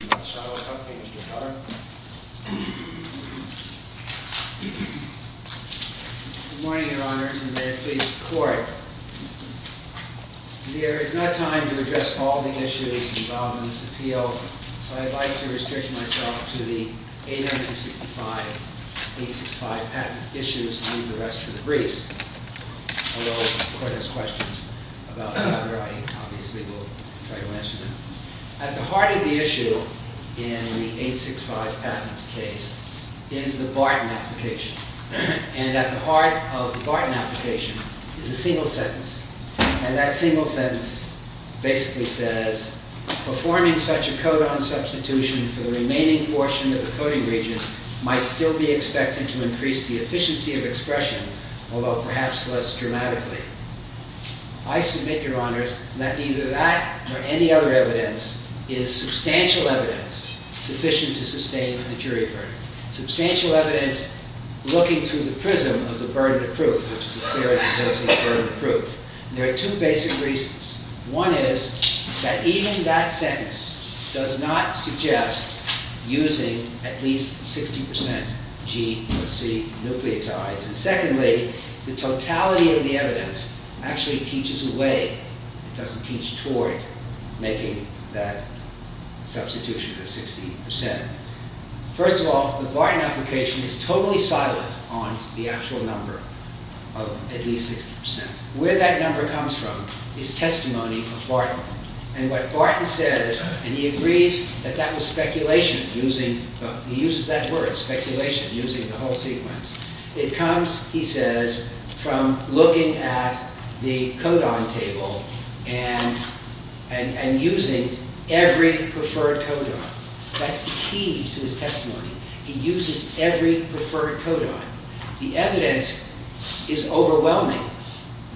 Good morning, Your Honours, and may it please the Court. There is not time to address all the issues involved in this appeal, so I would like to restrict myself to the 865-865 patent issues and leave the rest for the briefs. Although if the Court has questions about either, I obviously will try to answer them. At the heart of the issue in the 865 patent case is the Barton application, and at the heart of the Barton application is a single sentence, and that single sentence basically says, Performing such a codon substitution for the remaining portion of the coding region might still be expected to increase the efficiency of expression, although perhaps less dramatically. I submit, Your Honours, that either that or any other evidence is substantial evidence sufficient to sustain a jury verdict. Substantial evidence looking through the prism of the burden of proof, which is a theory proposing a burden of proof. There are two basic reasons. One is that even that sentence does not suggest using at least 60% G or C nucleotides. Secondly, the totality of the evidence actually teaches a way. It doesn't teach toward making that substitution of 60%. First of all, the Barton application is totally silent on the actual number of at least 60%. Where that number comes from is testimony of Barton. And what Barton says, and he agrees that that was speculation using, he uses that word, speculation, using the whole sequence. It comes, he says, from looking at the codon table and using every preferred codon. That's the key to his testimony. He uses every preferred codon. The evidence is overwhelming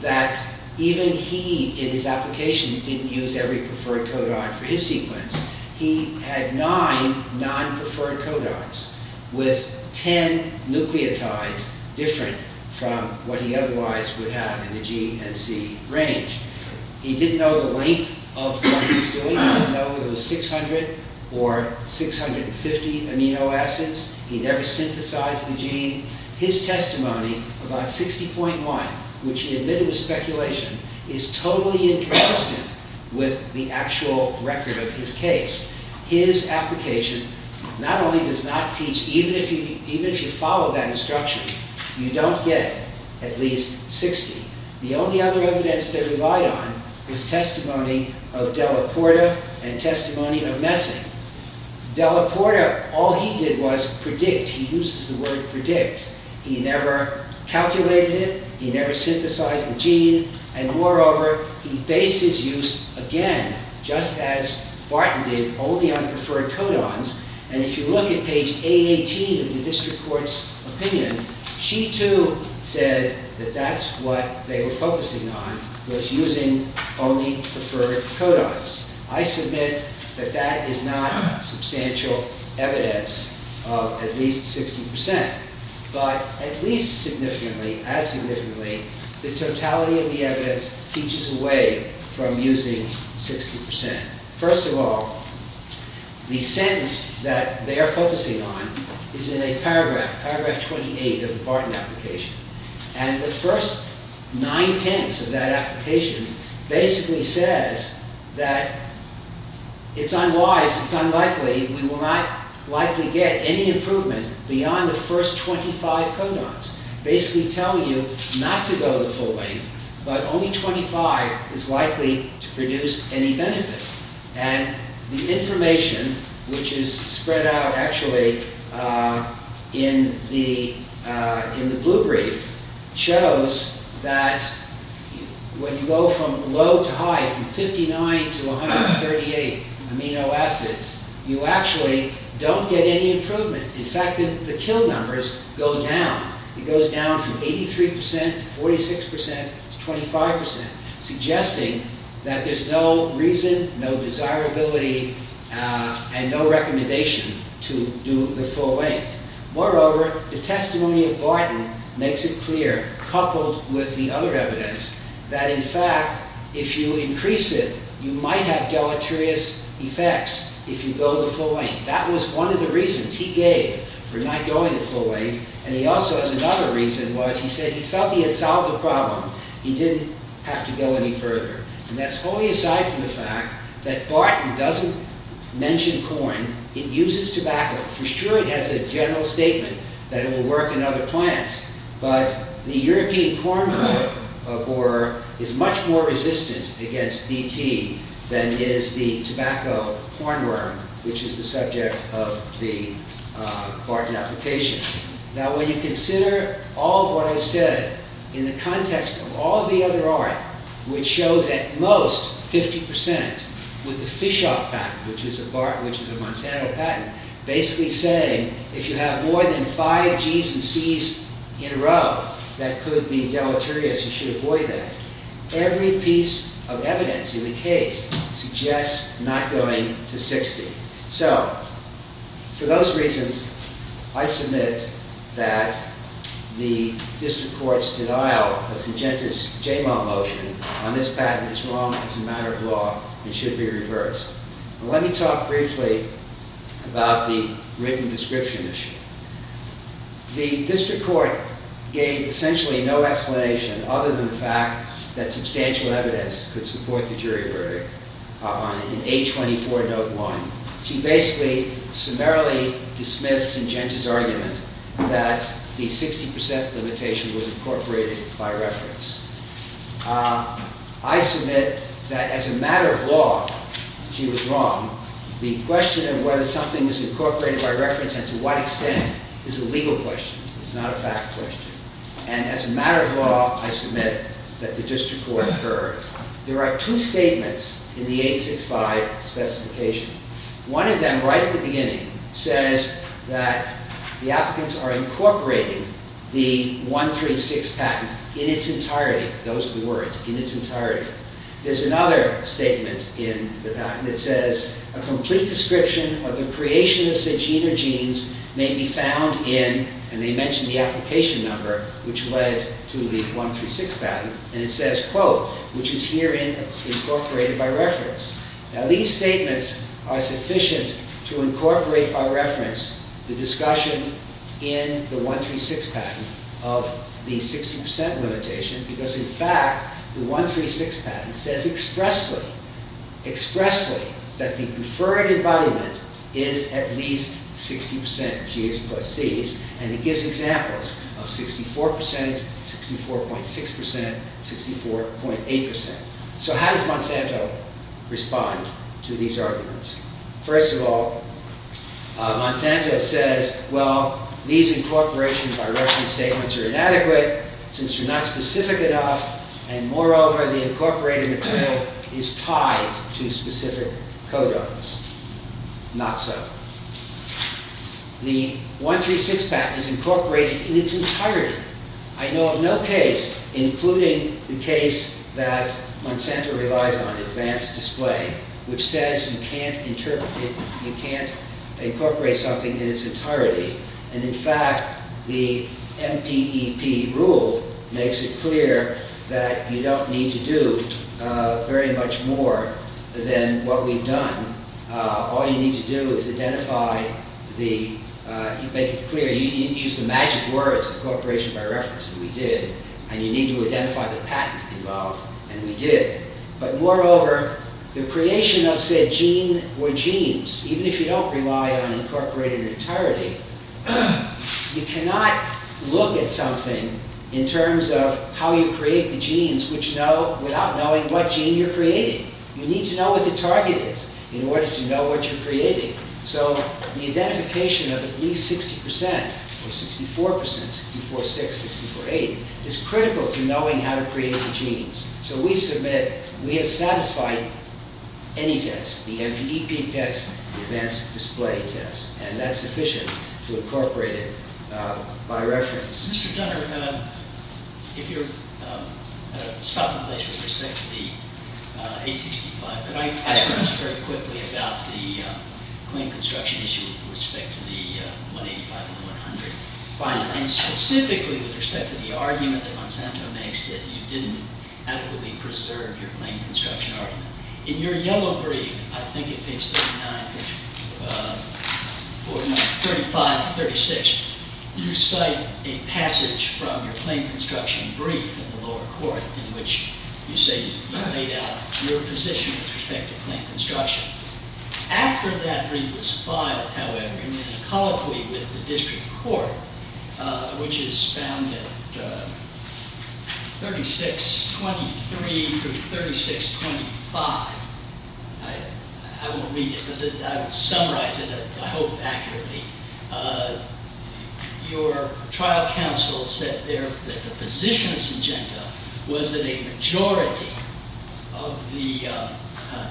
that even he, in his application, didn't use every preferred codon for his sequence. He had nine non-preferred codons with ten nucleotides different from what he otherwise would have in the G and C range. He didn't know the length of what he was doing. He didn't know if it was 600 or 650 amino acids. He never synthesized the gene. His testimony about 60.1, which he admitted was speculation, is totally inconsistent with the actual record of his case. His application not only does not teach, even if you follow that instruction, you don't get at least 60. The only other evidence they relied on was testimony of Della Porta and testimony of Messick. Della Porta, all he did was predict. He uses the word predict. He never calculated it. He never synthesized the gene. And moreover, he based his use, again, just as Barton did, only on preferred codons. And if you look at page 818 of the district court's opinion, she too said that that's what they were focusing on, was using only preferred codons. I submit that that is not substantial evidence of at least 60%. But at least significantly, as significantly, the totality of the evidence teaches away from using 60%. First of all, the sentence that they are focusing on is in a paragraph, paragraph 28 of the Barton application. And the first 9 tenths of that application basically says that it's unwise, it's unlikely, we will not likely get any improvement beyond the first 25 codons. Basically telling you not to go the full length, but only 25 is likely to produce any benefit. And the information, which is spread out actually in the blue brief, shows that when you go from low to high, from 59 to 138 amino acids, you actually don't get any improvement. In fact, the kill numbers go down. It goes down from 83% to 46% to 25%, suggesting that there's no reason, no desirability, and no recommendation to do the full length. Moreover, the testimony of Barton makes it clear, coupled with the other evidence, that in fact, if you increase it, you might have deleterious effects if you go the full length. That was one of the reasons he gave for not going the full length. And he also has another reason was he said he felt he had solved the problem. He didn't have to go any further. And that's wholly aside from the fact that Barton doesn't mention corn. It uses tobacco. For sure, it has a general statement that it will work in other plants. But the European corn borer is much more resistant against DT than is the tobacco corn worm, which is the subject of the Barton application. Now, when you consider all of what I've said in the context of all the other art, which shows at most 50% with the Fischhoff patent, which is a Monsanto patent, basically saying if you have more than five G's and C's in a row, that could be deleterious. You should avoid that. Every piece of evidence in the case suggests not going to 60. So for those reasons, I submit that the district court's denial of the Jamal motion on this patent is wrong. It's a matter of law. It should be reversed. Let me talk briefly about the written description issue. The district court gave essentially no explanation other than the fact that substantial evidence could support the jury verdict in A24 note one. She basically summarily dismissed Syngenta's argument that the 60% limitation was incorporated by reference. I submit that as a matter of law, she was wrong. The question of whether something was incorporated by reference and to what extent is a legal question. It's not a fact question. And as a matter of law, I submit that the district court heard. There are two statements in the 865 specification. One of them, right at the beginning, says that the applicants are incorporating the 136 patent in its entirety. Those are the words, in its entirety. There's another statement in the patent. It says, a complete description of the creation of Syngenta genes may be found in, and they mention the application number, which led to the 136 patent. And it says, quote, which is herein incorporated by reference. Now these statements are sufficient to incorporate by reference the discussion in the 136 patent of the 60% limitation. Because in fact, the 136 patent says expressly, expressly, that the preferred embodiment is at least 60% of GAs plus Cs. And it gives examples of 64%, 64.6%, 64.8%. So how does Monsanto respond to these arguments? First of all, Monsanto says, well, these incorporations by reference statements are inadequate since they're not specific enough. And moreover, the incorporated material is tied to specific codons. Not so. The 136 patent is incorporated in its entirety. I know of no case, including the case that Monsanto relies on, advanced display, which says you can't incorporate something in its entirety. And in fact, the MPEP rule makes it clear that you don't need to do very much more than what we've done. All you need to do is identify the, make it clear, you didn't use the magic words, incorporation by reference, we did. And you need to identify the patent involved, and we did. But moreover, the creation of said gene or genes, even if you don't rely on incorporated in its entirety, you cannot look at something in terms of how you create the genes without knowing what gene you're creating. You need to know what the target is in order to know what you're creating. So the identification of at least 60%, or 64%, 646, 648, is critical to knowing how to create the genes. So we submit, we have satisfied any test, the MPEP test, the advanced display test. And that's sufficient to incorporate it by reference. Mr. Dunner, if you're stopping in place with respect to the 865, could I ask you just very quickly about the claim construction issue with respect to the 185 and the 100? And specifically with respect to the argument that Monsanto makes that you didn't adequately preserve your claim construction argument. In your yellow brief, I think it is 39, 35, 36, you cite a passage from your claim construction brief in the lower court in which you say you laid out your position with respect to claim construction. After that brief was filed, however, in a colloquy with the district court, which is found at 3623 through 3625, I won't read it, but I will summarize it, I hope, accurately. Your trial counsel said that the position of Syngenta was that a majority of the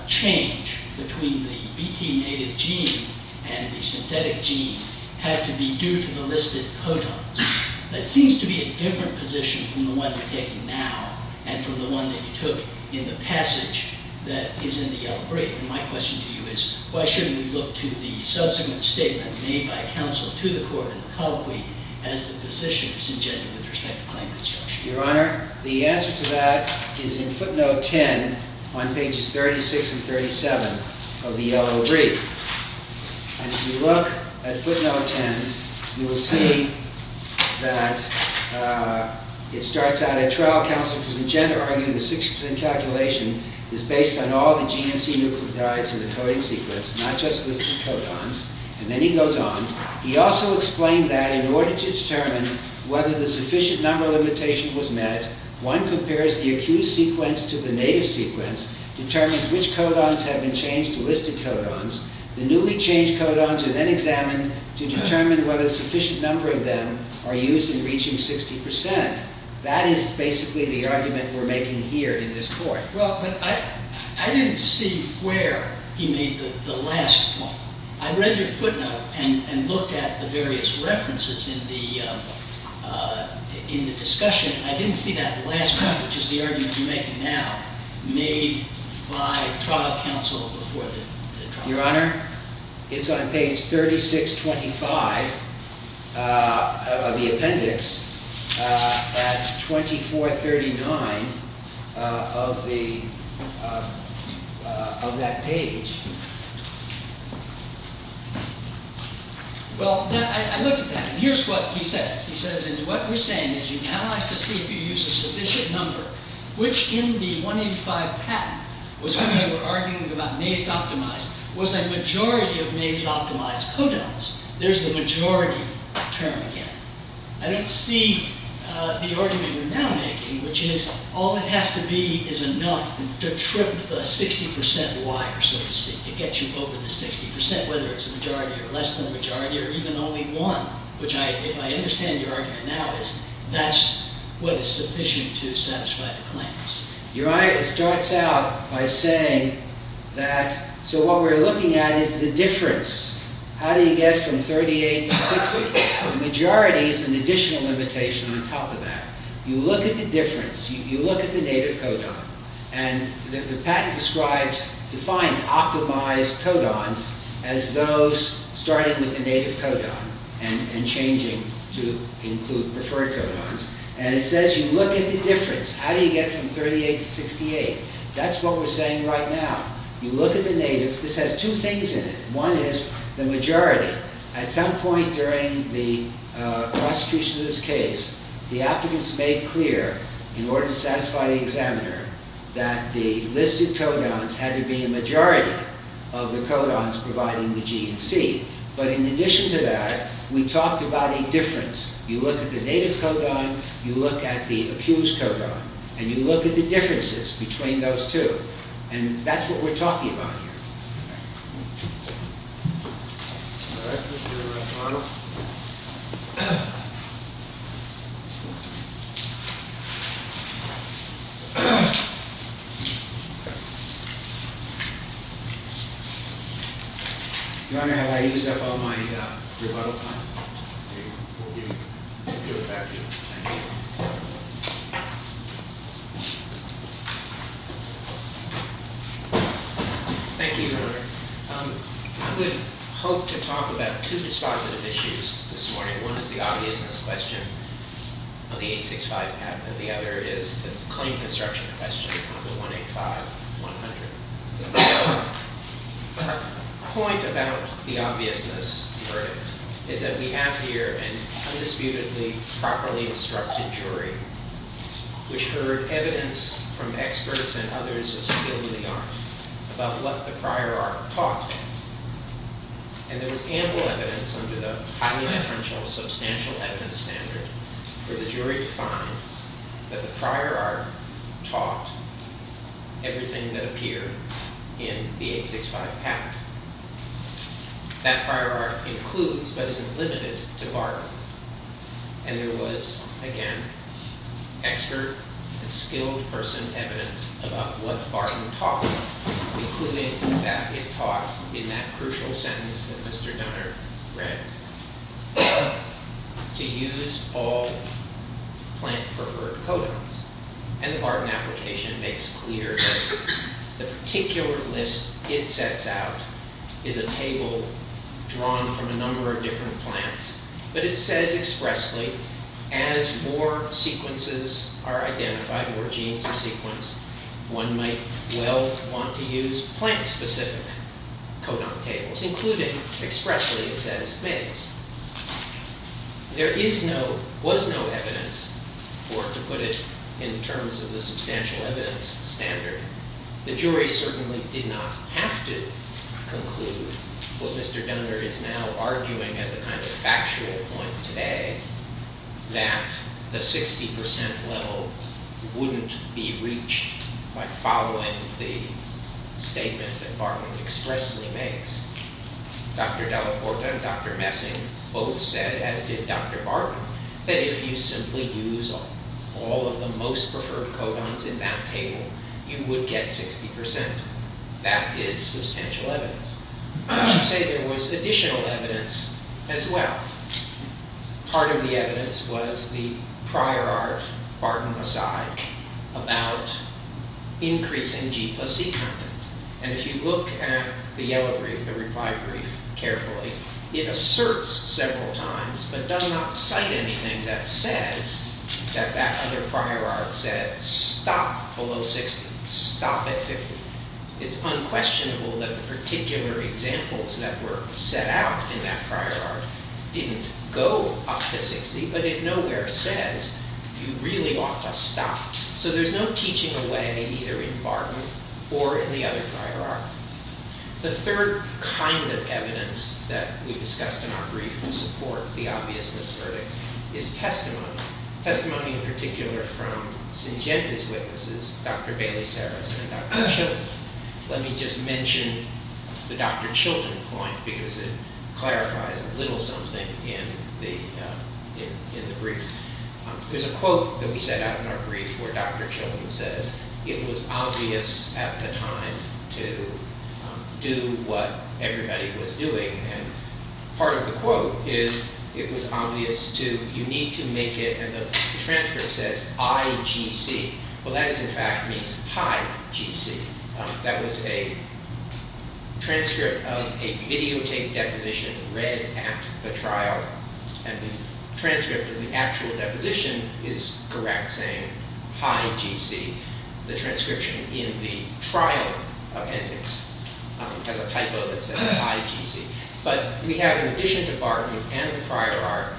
change between the BT native gene and the synthetic gene had to be due to the listed protons. That seems to be a different position from the one you're taking now and from the one that you took in the passage that is in the yellow brief. My question to you is, why shouldn't we look to the subsequent statement made by counsel to the court in the colloquy as the position of Syngenta with respect to claim construction? Your Honor, the answer to that is in footnote 10 on pages 36 and 37 of the yellow brief. And if you look at footnote 10, you will see that it starts out, that trial counsel for Syngenta argued the 6% calculation is based on all the GNC nucleotides in the coding sequence, not just listed codons, and then he goes on. He also explained that in order to determine whether the sufficient number limitation was met, one compares the accused sequence to the native sequence, determines which codons have been changed to listed codons. The newly changed codons are then examined to determine whether a sufficient number of them are used in reaching 60%. That is basically the argument we're making here in this court. Well, but I didn't see where he made the last point. I read your footnote and looked at the various references in the discussion. I didn't see that last point, which is the argument you're making now, made by trial counsel before the trial counsel. Your Honor, it's on page 3625 of the appendix at 2439 of that page. Well, I looked at that, and here's what he says. He says, and what we're saying is you analyze to see if you use a sufficient number, which in the 185 patent was when they were arguing about maze-optimized, was a majority of maze-optimized codons. There's the majority term again. I don't see the argument we're now making, which is all it has to be is enough to trip the 60% wire, so to speak, to get you over the 60%, whether it's a majority or less than a majority or even only one, which if I understand your argument now is that's what is sufficient to satisfy the claims. Your Honor, it starts out by saying that, so what we're looking at is the difference. How do you get from 38 to 60? The majority is an additional limitation on top of that. You look at the difference. You look at the native codon, and the patent describes, defines optimized codons as those starting with the native codon and changing to include preferred codons, and it says you look at the difference. How do you get from 38 to 68? That's what we're saying right now. You look at the native. This has two things in it. One is the majority. At some point during the prosecution of this case, the applicants made clear in order to satisfy the examiner that the listed codons had to be a majority of the codons providing the GNC, but in addition to that, we talked about a difference. You look at the native codon. You look at the accused codon, and you look at the differences between those two, and that's what we're talking about here. All right, Mr. McArdle. Your Honor, have I used up all my rebuttal time? We'll give it back to you. Thank you. Thank you, Your Honor. I would hope to talk about two dispositive issues this morning. One is the obviousness question of the 865 patent, and the other is the claim construction question of the 185-100. The point about the obviousness verdict is that we have here an undisputedly properly instructed jury which heard evidence from experts and others of skilled in the art about what the prior art taught, and there was ample evidence under the highly referential substantial evidence standard for the jury to find that the prior art taught everything that appeared in the 865 patent. That prior art includes but isn't limited to art, and there was, again, expert and skilled person evidence about what the Barton taught, including that it taught in that crucial sentence that Mr. Donner read, to use all plant-preferred codons, and the Barton application makes clear that the particular list it sets out is a table drawn from a number of different plants, but it says expressly, as more sequences are identified, more genes are sequenced, one might well want to use plant-specific codon tables, including expressly, it says, males. There is no, was no evidence, or to put it in terms of the substantial evidence standard, the jury certainly did not have to conclude what Mr. Donner is now arguing as a kind of factual point today, that the 60% level wouldn't be reached by following the statement that Barton expressly makes. Dr. Delaporta and Dr. Messing both said, as did Dr. Barton, that if you simply use all of the most preferred codons in that table, you would get 60%. That is substantial evidence. I would say there was additional evidence as well. Part of the evidence was the prior art, Barton aside, about increasing G plus C content. And if you look at the yellow brief, the reply brief, carefully, it asserts several times, but does not cite anything that says that that other prior art said, stop below 60, stop at 50. It's unquestionable that the particular examples that were set out in that prior art didn't go up to 60, but it nowhere says you really ought to stop. So there's no teaching away either in Barton or in the other prior art. The third kind of evidence that we discussed in our brief to support the obviousness verdict is testimony. Testimony in particular from Syngenta's witnesses, Dr. Bailey-Saras and Dr. Chilton. Let me just mention the Dr. Chilton point because it clarifies a little something in the brief. There's a quote that we set out in our brief where Dr. Chilton says, it was obvious at the time to do what everybody was doing. And part of the quote is it was obvious to, you need to make it, and the transcript says IGC. Well, that is in fact means high GC. That was a transcript of a videotape deposition read at the trial. And the transcript of the actual deposition is correct, saying high GC. The transcription in the trial appendix has a typo that says high GC. But we have, in addition to Barton and the prior art,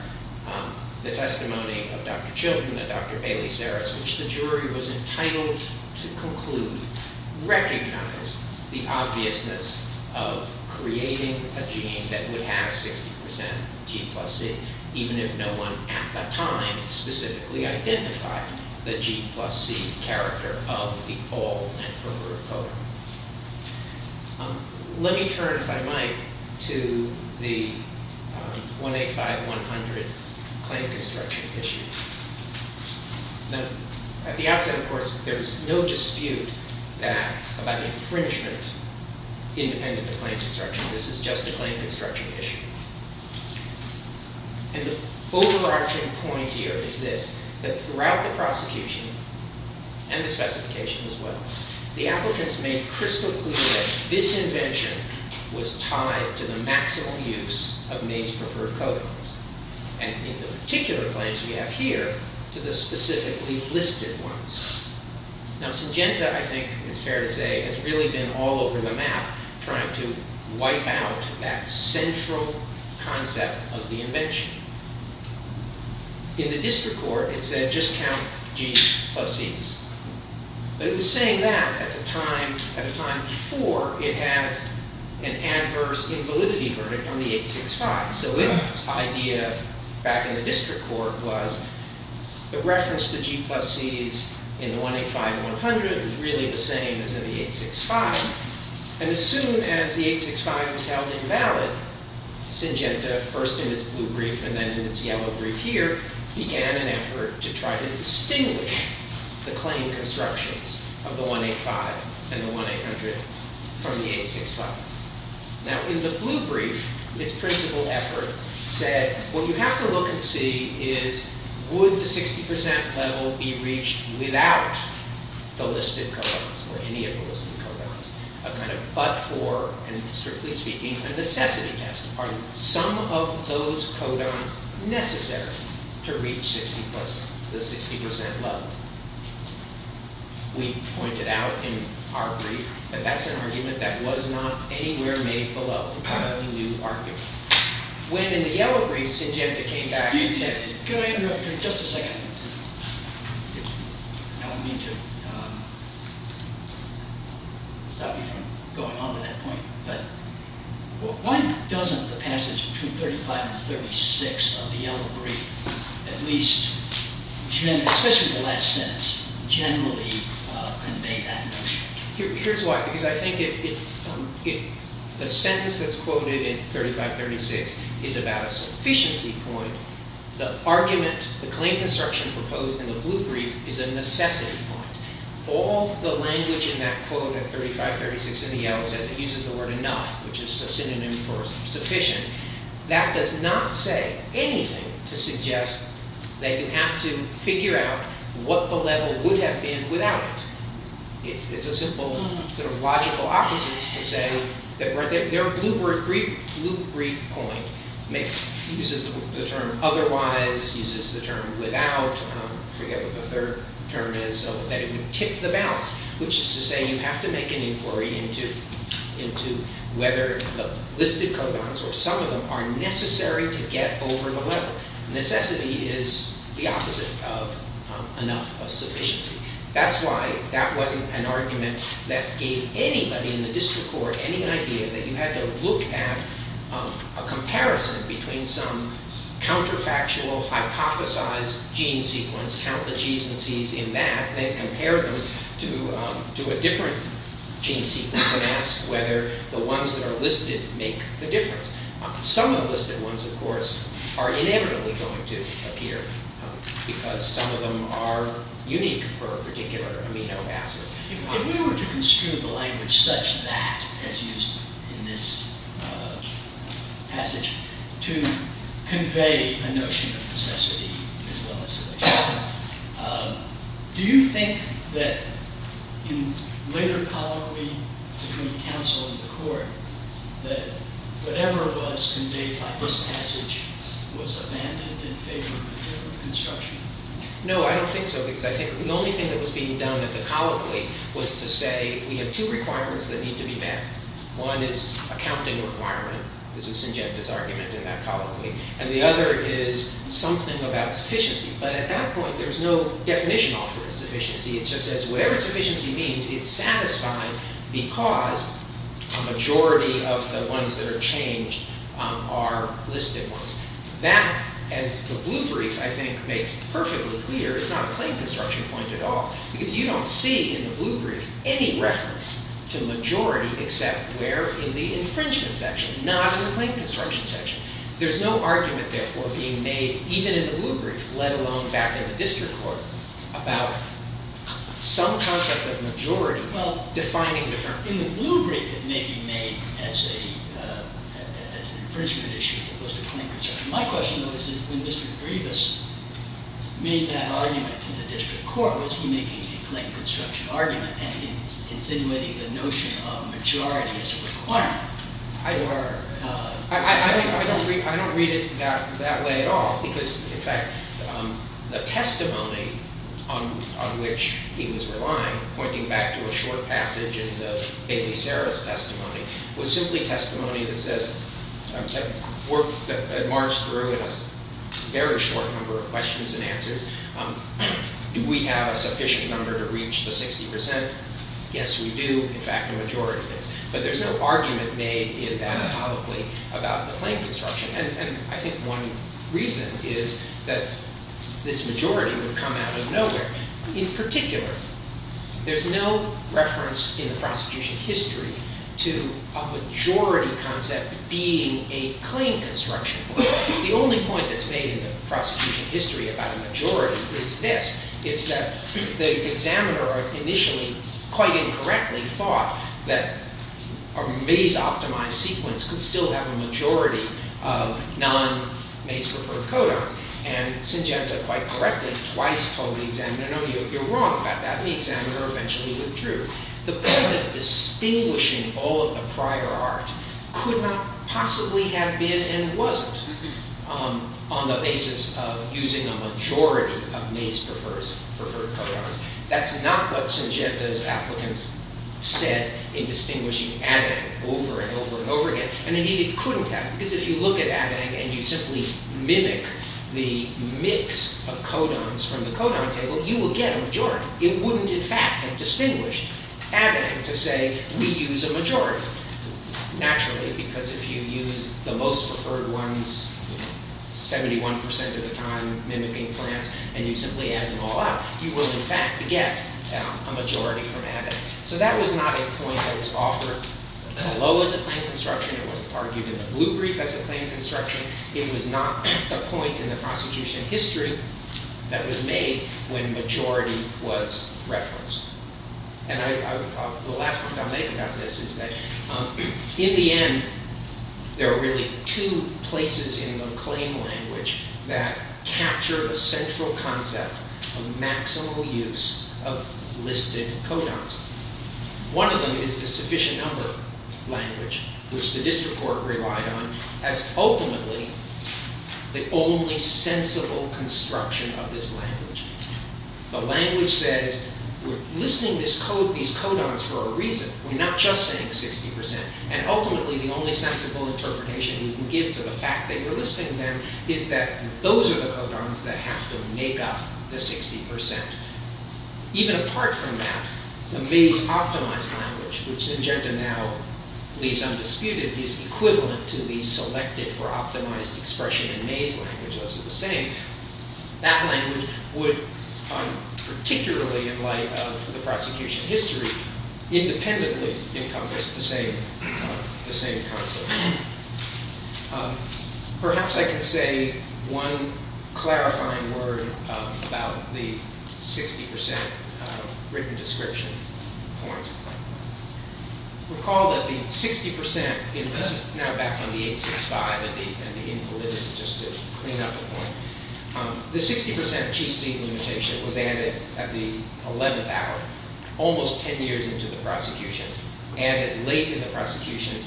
the testimony of Dr. Chilton and Dr. Bailey-Saras, which the jury was entitled to conclude, recognized the obviousness of creating a gene that would have 60% G plus C, even if no one at the time specifically identified the G plus C character of the old and perverted code. Let me turn, if I might, to the 185-100 claim construction issue. Now, at the outset, of course, there's no dispute that, about infringement independent of claim construction. This is just a claim construction issue. And the overarching point here is this, that throughout the prosecution, and the specification as well, the applicants made crystal clear that this invention was tied to the maximal use of May's preferred codings. And in the particular claims we have here, to the specifically listed ones. Now, Syngenta, I think it's fair to say, has really been all over the map trying to wipe out that central concept of the invention. In the district court, it said just count G plus Cs. But it was saying that at a time before it had an adverse invalidity verdict on the 865. So its idea back in the district court was to reference the G plus Cs in the 185-100 as really the same as in the 865. And as soon as the 865 was held invalid, Syngenta, first in its blue brief and then in its yellow brief here, began an effort to try to distinguish the claim constructions of the 185 and the 1800 from the 865. Now, in the blue brief, its principle effort said what you have to look and see is would the 60% level be reached without the listed codons, or any of the listed codons, a kind of but-for, and strictly speaking, a necessity test. Are some of those codons necessary to reach the 60% level? We pointed out in our brief that that's an argument that was not anywhere made below the blue argument. When, in the yellow brief, Syngenta came back and said, could I interrupt for just a second? I don't mean to stop you from going on to that point, but why doesn't the passage between 35 and 36 of the yellow brief at least, especially the last sentence, generally convey that notion? Here's why, because I think the sentence that's quoted in 35-36 is about a sufficiency point. The argument, the claim construction proposed in the blue brief is a necessity point. All the language in that quote in 35-36 in the yellow says it uses the word enough, which is a synonym for sufficient. That does not say anything to suggest that you have to figure out what the level would have been without it. It's a simple logical opposite to say that their blue brief point uses the term otherwise, uses the term without, I forget what the third term is, so that it would tip the balance, which is to say you have to make an inquiry into whether the listed codons or some of them are necessary to get over the level. Necessity is the opposite of enough, of sufficiency. That's why that wasn't an argument that gave anybody in the district court any idea that you had to look at a comparison between some counterfactual hypothesized gene sequence, count the G's and C's in that, then compare them to a different gene sequence and ask whether the ones that are listed make the difference. Some of the listed ones, of course, are inevitably going to appear because some of them are unique for a particular amino acid. If we were to construe the language such that is used in this passage to convey a notion of necessity as well as sufficiency, do you think that in later colloquy between counsel and the court that whatever was conveyed by this passage was abandoned in favor of a different construction? No, I don't think so, because I think the only thing that was being done in the colloquy was to say we have two requirements that need to be met. One is a counting requirement. This is Syngenta's argument in that colloquy. And the other is something about sufficiency. But at that point, there's no definition offered as sufficiency. It just says whatever sufficiency means, it's satisfied because a majority of the ones that are changed are listed ones. That, as the blue brief, I think, makes perfectly clear, is not a claim construction point at all. Because you don't see in the blue brief any reference to majority except where in the infringement section, not in the claim construction section. There's no argument, therefore, being made, even in the blue brief, let alone back in the district court, about some concept of majority defining the term. In the blue brief, it may be made as an infringement issue as opposed to claim construction. My question, though, is when Mr. Grievous made that argument to the district court, was he making a claim construction argument and insinuating the notion of majority as a requirement? I don't read it that way at all. Because, in fact, the testimony on which he was relying, pointing back to a short passage in the Bailey-Serra's testimony, was simply testimony that says, that marched through in a very short number of questions and answers, do we have a sufficient number to reach the 60%? Yes, we do. In fact, the majority does. But there's no argument made in that colloquy about the claim construction. And I think one reason is that this majority would come out of nowhere. In particular, there's no reference in the prosecution history to a majority concept being a claim construction. The only point that's made in the prosecution history about a majority is this. It's that the examiner initially, quite incorrectly, thought that a maze-optimized sequence could still have a majority of non-maze-referred codons. And Syngenta, quite correctly, twice told the examiner, no, no, you're wrong about that. And the examiner eventually withdrew. The point of distinguishing all of the prior art could not possibly have been and wasn't on the basis of using a majority of maze-preferred codons. That's not what Syngenta's applicants said in distinguishing adding over and over and over again. And indeed, it couldn't have. Because if you look at adding and you simply mimic the mix of codons from the codon table, you will get a majority. It wouldn't, in fact, have distinguished adding to say, we use a majority. Naturally, because if you use the most preferred ones 71% of the time, mimicking plants, and you simply add them all up, you will, in fact, get a majority from adding. So that was not a point that was offered low as a claim construction. It wasn't argued in the blue brief as a claim construction. It was not a point in the prostitution history that was made when majority was referenced. And the last point I'll make about this is that in the end, there are really two places in the claim language that capture the central concept of maximal use of listed codons. One of them is the sufficient number language, which the district court relied on as ultimately the only sensible construction of this language. The language says, we're listing these codons for a reason. We're not just saying 60%. And ultimately, the only sensible interpretation you can give to the fact that you're listing them is that those are the codons that have to make up the 60%. Even apart from that, the maze-optimized language, which Njenta now leaves undisputed, is equivalent to the selected-for-optimized expression in maze language. Those are the same. That language would, particularly in light of the prosecution history, independently encompass the same concept. Perhaps I can say one clarifying word about the 60% written description point. Recall that the 60%, and this is now back from the 865 and the Invalidity, just to clean up the point. The 60% GC limitation was added at the 11th hour, almost 10 years into the prosecution, added late in the prosecution,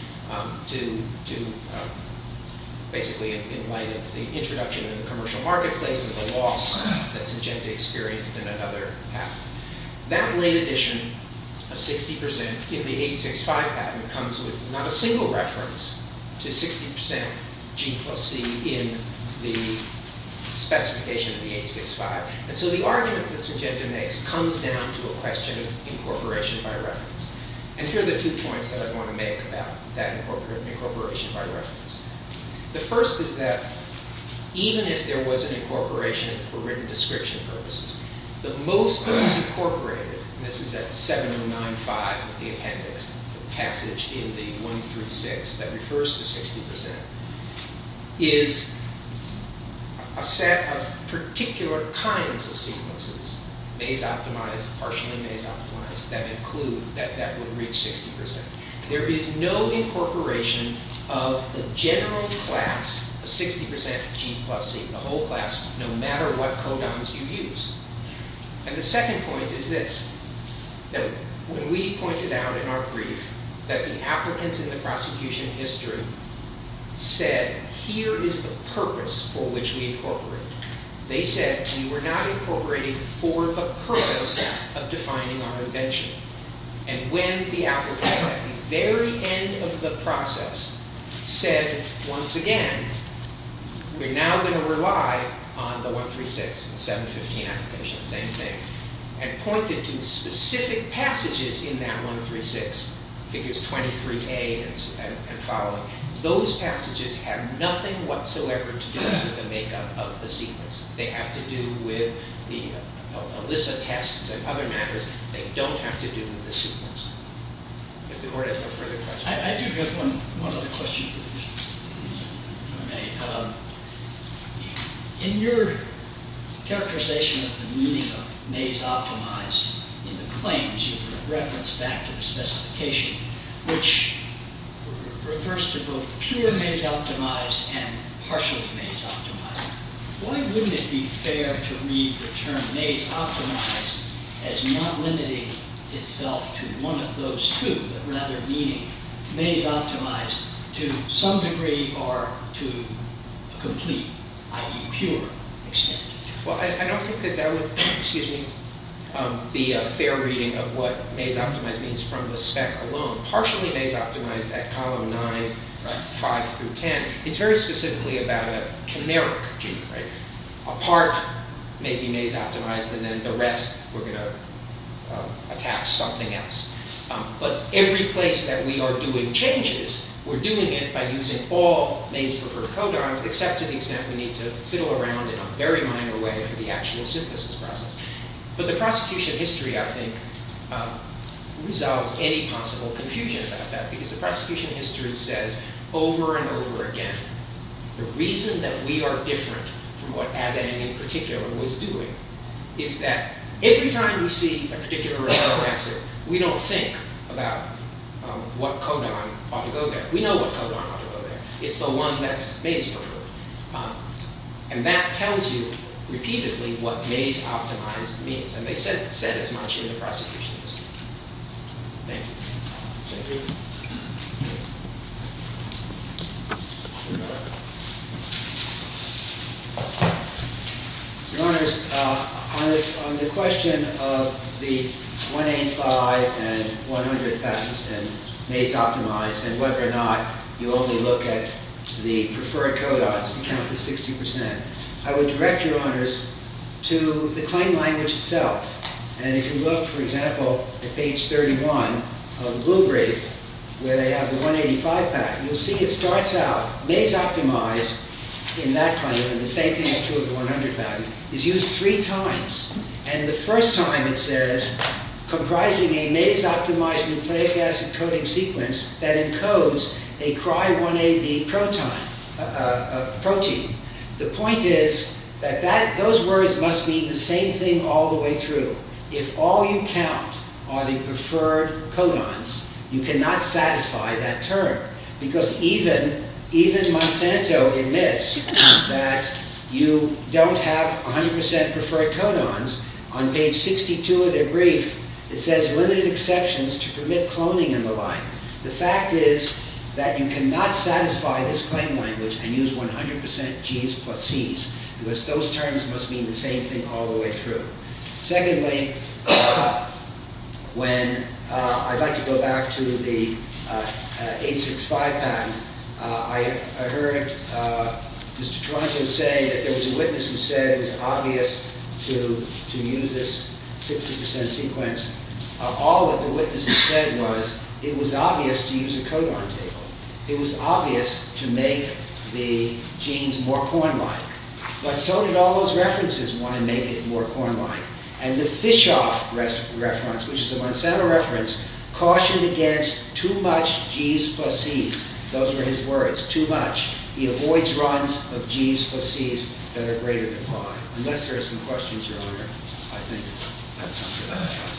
basically in light of the introduction in the commercial marketplace and the loss that Njenta experienced in another patent. That late addition of 60% in the 865 patent comes with not a single reference to 60% G plus C in the specification of the 865. And so the argument that Njenta makes comes down to a question of incorporation by reference. And here are the two points that I want to make about that incorporation by reference. The first is that even if there was an incorporation for written description purposes, the most that was incorporated, and this is at 7095 of the appendix, the passage in the 136 that refers to 60%, is a set of particular kinds of sequences, maze-optimized, partially maze-optimized, that include, that would reach 60%. There is no incorporation of the general class of 60% G plus C, the whole class, no matter what codons you use. And the second point is this, that when we pointed out in our brief that the applicants in the prosecution history said, here is the purpose for which we incorporate, they said we were not incorporating for the purpose of defining our invention. And when the applicants at the very end of the process said, once again, we're now going to rely on the 136, 715 application, same thing, and pointed to specific passages in that 136, figures 23A and following, those passages have nothing whatsoever to do with the makeup of the sequence. They have to do with the ELISA tests and other matters. They don't have to do with the sequence. If the court has no further questions. I do have one other question. In your characterization of the meaning of maze-optimized in the claims you referenced back to the specification, which refers to both pure maze-optimized and partial maze-optimized, why wouldn't it be fair to read the term maze-optimized as not limiting itself to one of those two, but rather meaning maze-optimized to some degree or to a complete, i.e. pure, extent? Well, I don't think that that would be a fair reading of what maze-optimized means from the spec alone. Partially maze-optimized at column 9, 5 through 10 is very specifically about a canaric gene. A part may be maze-optimized and then the rest we're going to attach something else. But every place that we are doing changes, we're doing it by using all maze-preferred codons except to the extent we need to fiddle around in a very minor way for the actual synthesis process. But the prosecution history, I think, resolves any possible confusion about that because the prosecution history says over and over again the reason that we are different from what Adaine in particular was doing is that every time we see a particular result exit, we don't think about what codon ought to go there. We know what codon ought to go there. It's the one that's maze-preferred. And that tells you repeatedly what maze-optimized means. And they said it said as much in the prosecution history. Thank you. Thank you. Your Honors, on the question of the 185 and 100 patents and maze-optimized and whether or not you only look at the preferred codons to count the 60%, I would direct Your Honors to the claim language itself. And if you look, for example, at page 31 of the Blue Brief where they have the 185 patent, you'll see it starts out maze-optimized in that claim and the same thing is true of the 100 patent. It's used three times. And the first time it says, comprising a maze-optimized nucleic acid coding sequence that encodes a CRY1AB protein. The point is that those words must mean the same thing all the way through. If all you count are the preferred codons, you cannot satisfy that term. Because even Monsanto admits that you don't have 100% preferred codons. On page 62 of their brief, it says limited exceptions to permit cloning and the like. The fact is that you cannot satisfy this claim language and use 100% Gs plus Cs because those terms must mean the same thing all the way through. Secondly, when I'd like to go back to the 865 patent, I heard Mr. Taranto say that there was a witness who said it was obvious to use this 60% sequence. All that the witness said was it was obvious to use a codon table. It was obvious to make the genes more corn-like. But so did all those references want to make it more corn-like. And the Fishoff reference, which is a Monsanto reference, cautioned against too much Gs plus Cs. Those were his words. Too much. He avoids runs of Gs plus Cs that are greater than Y. Unless there are some questions, Your Honor. I think that's all I have. Thank you.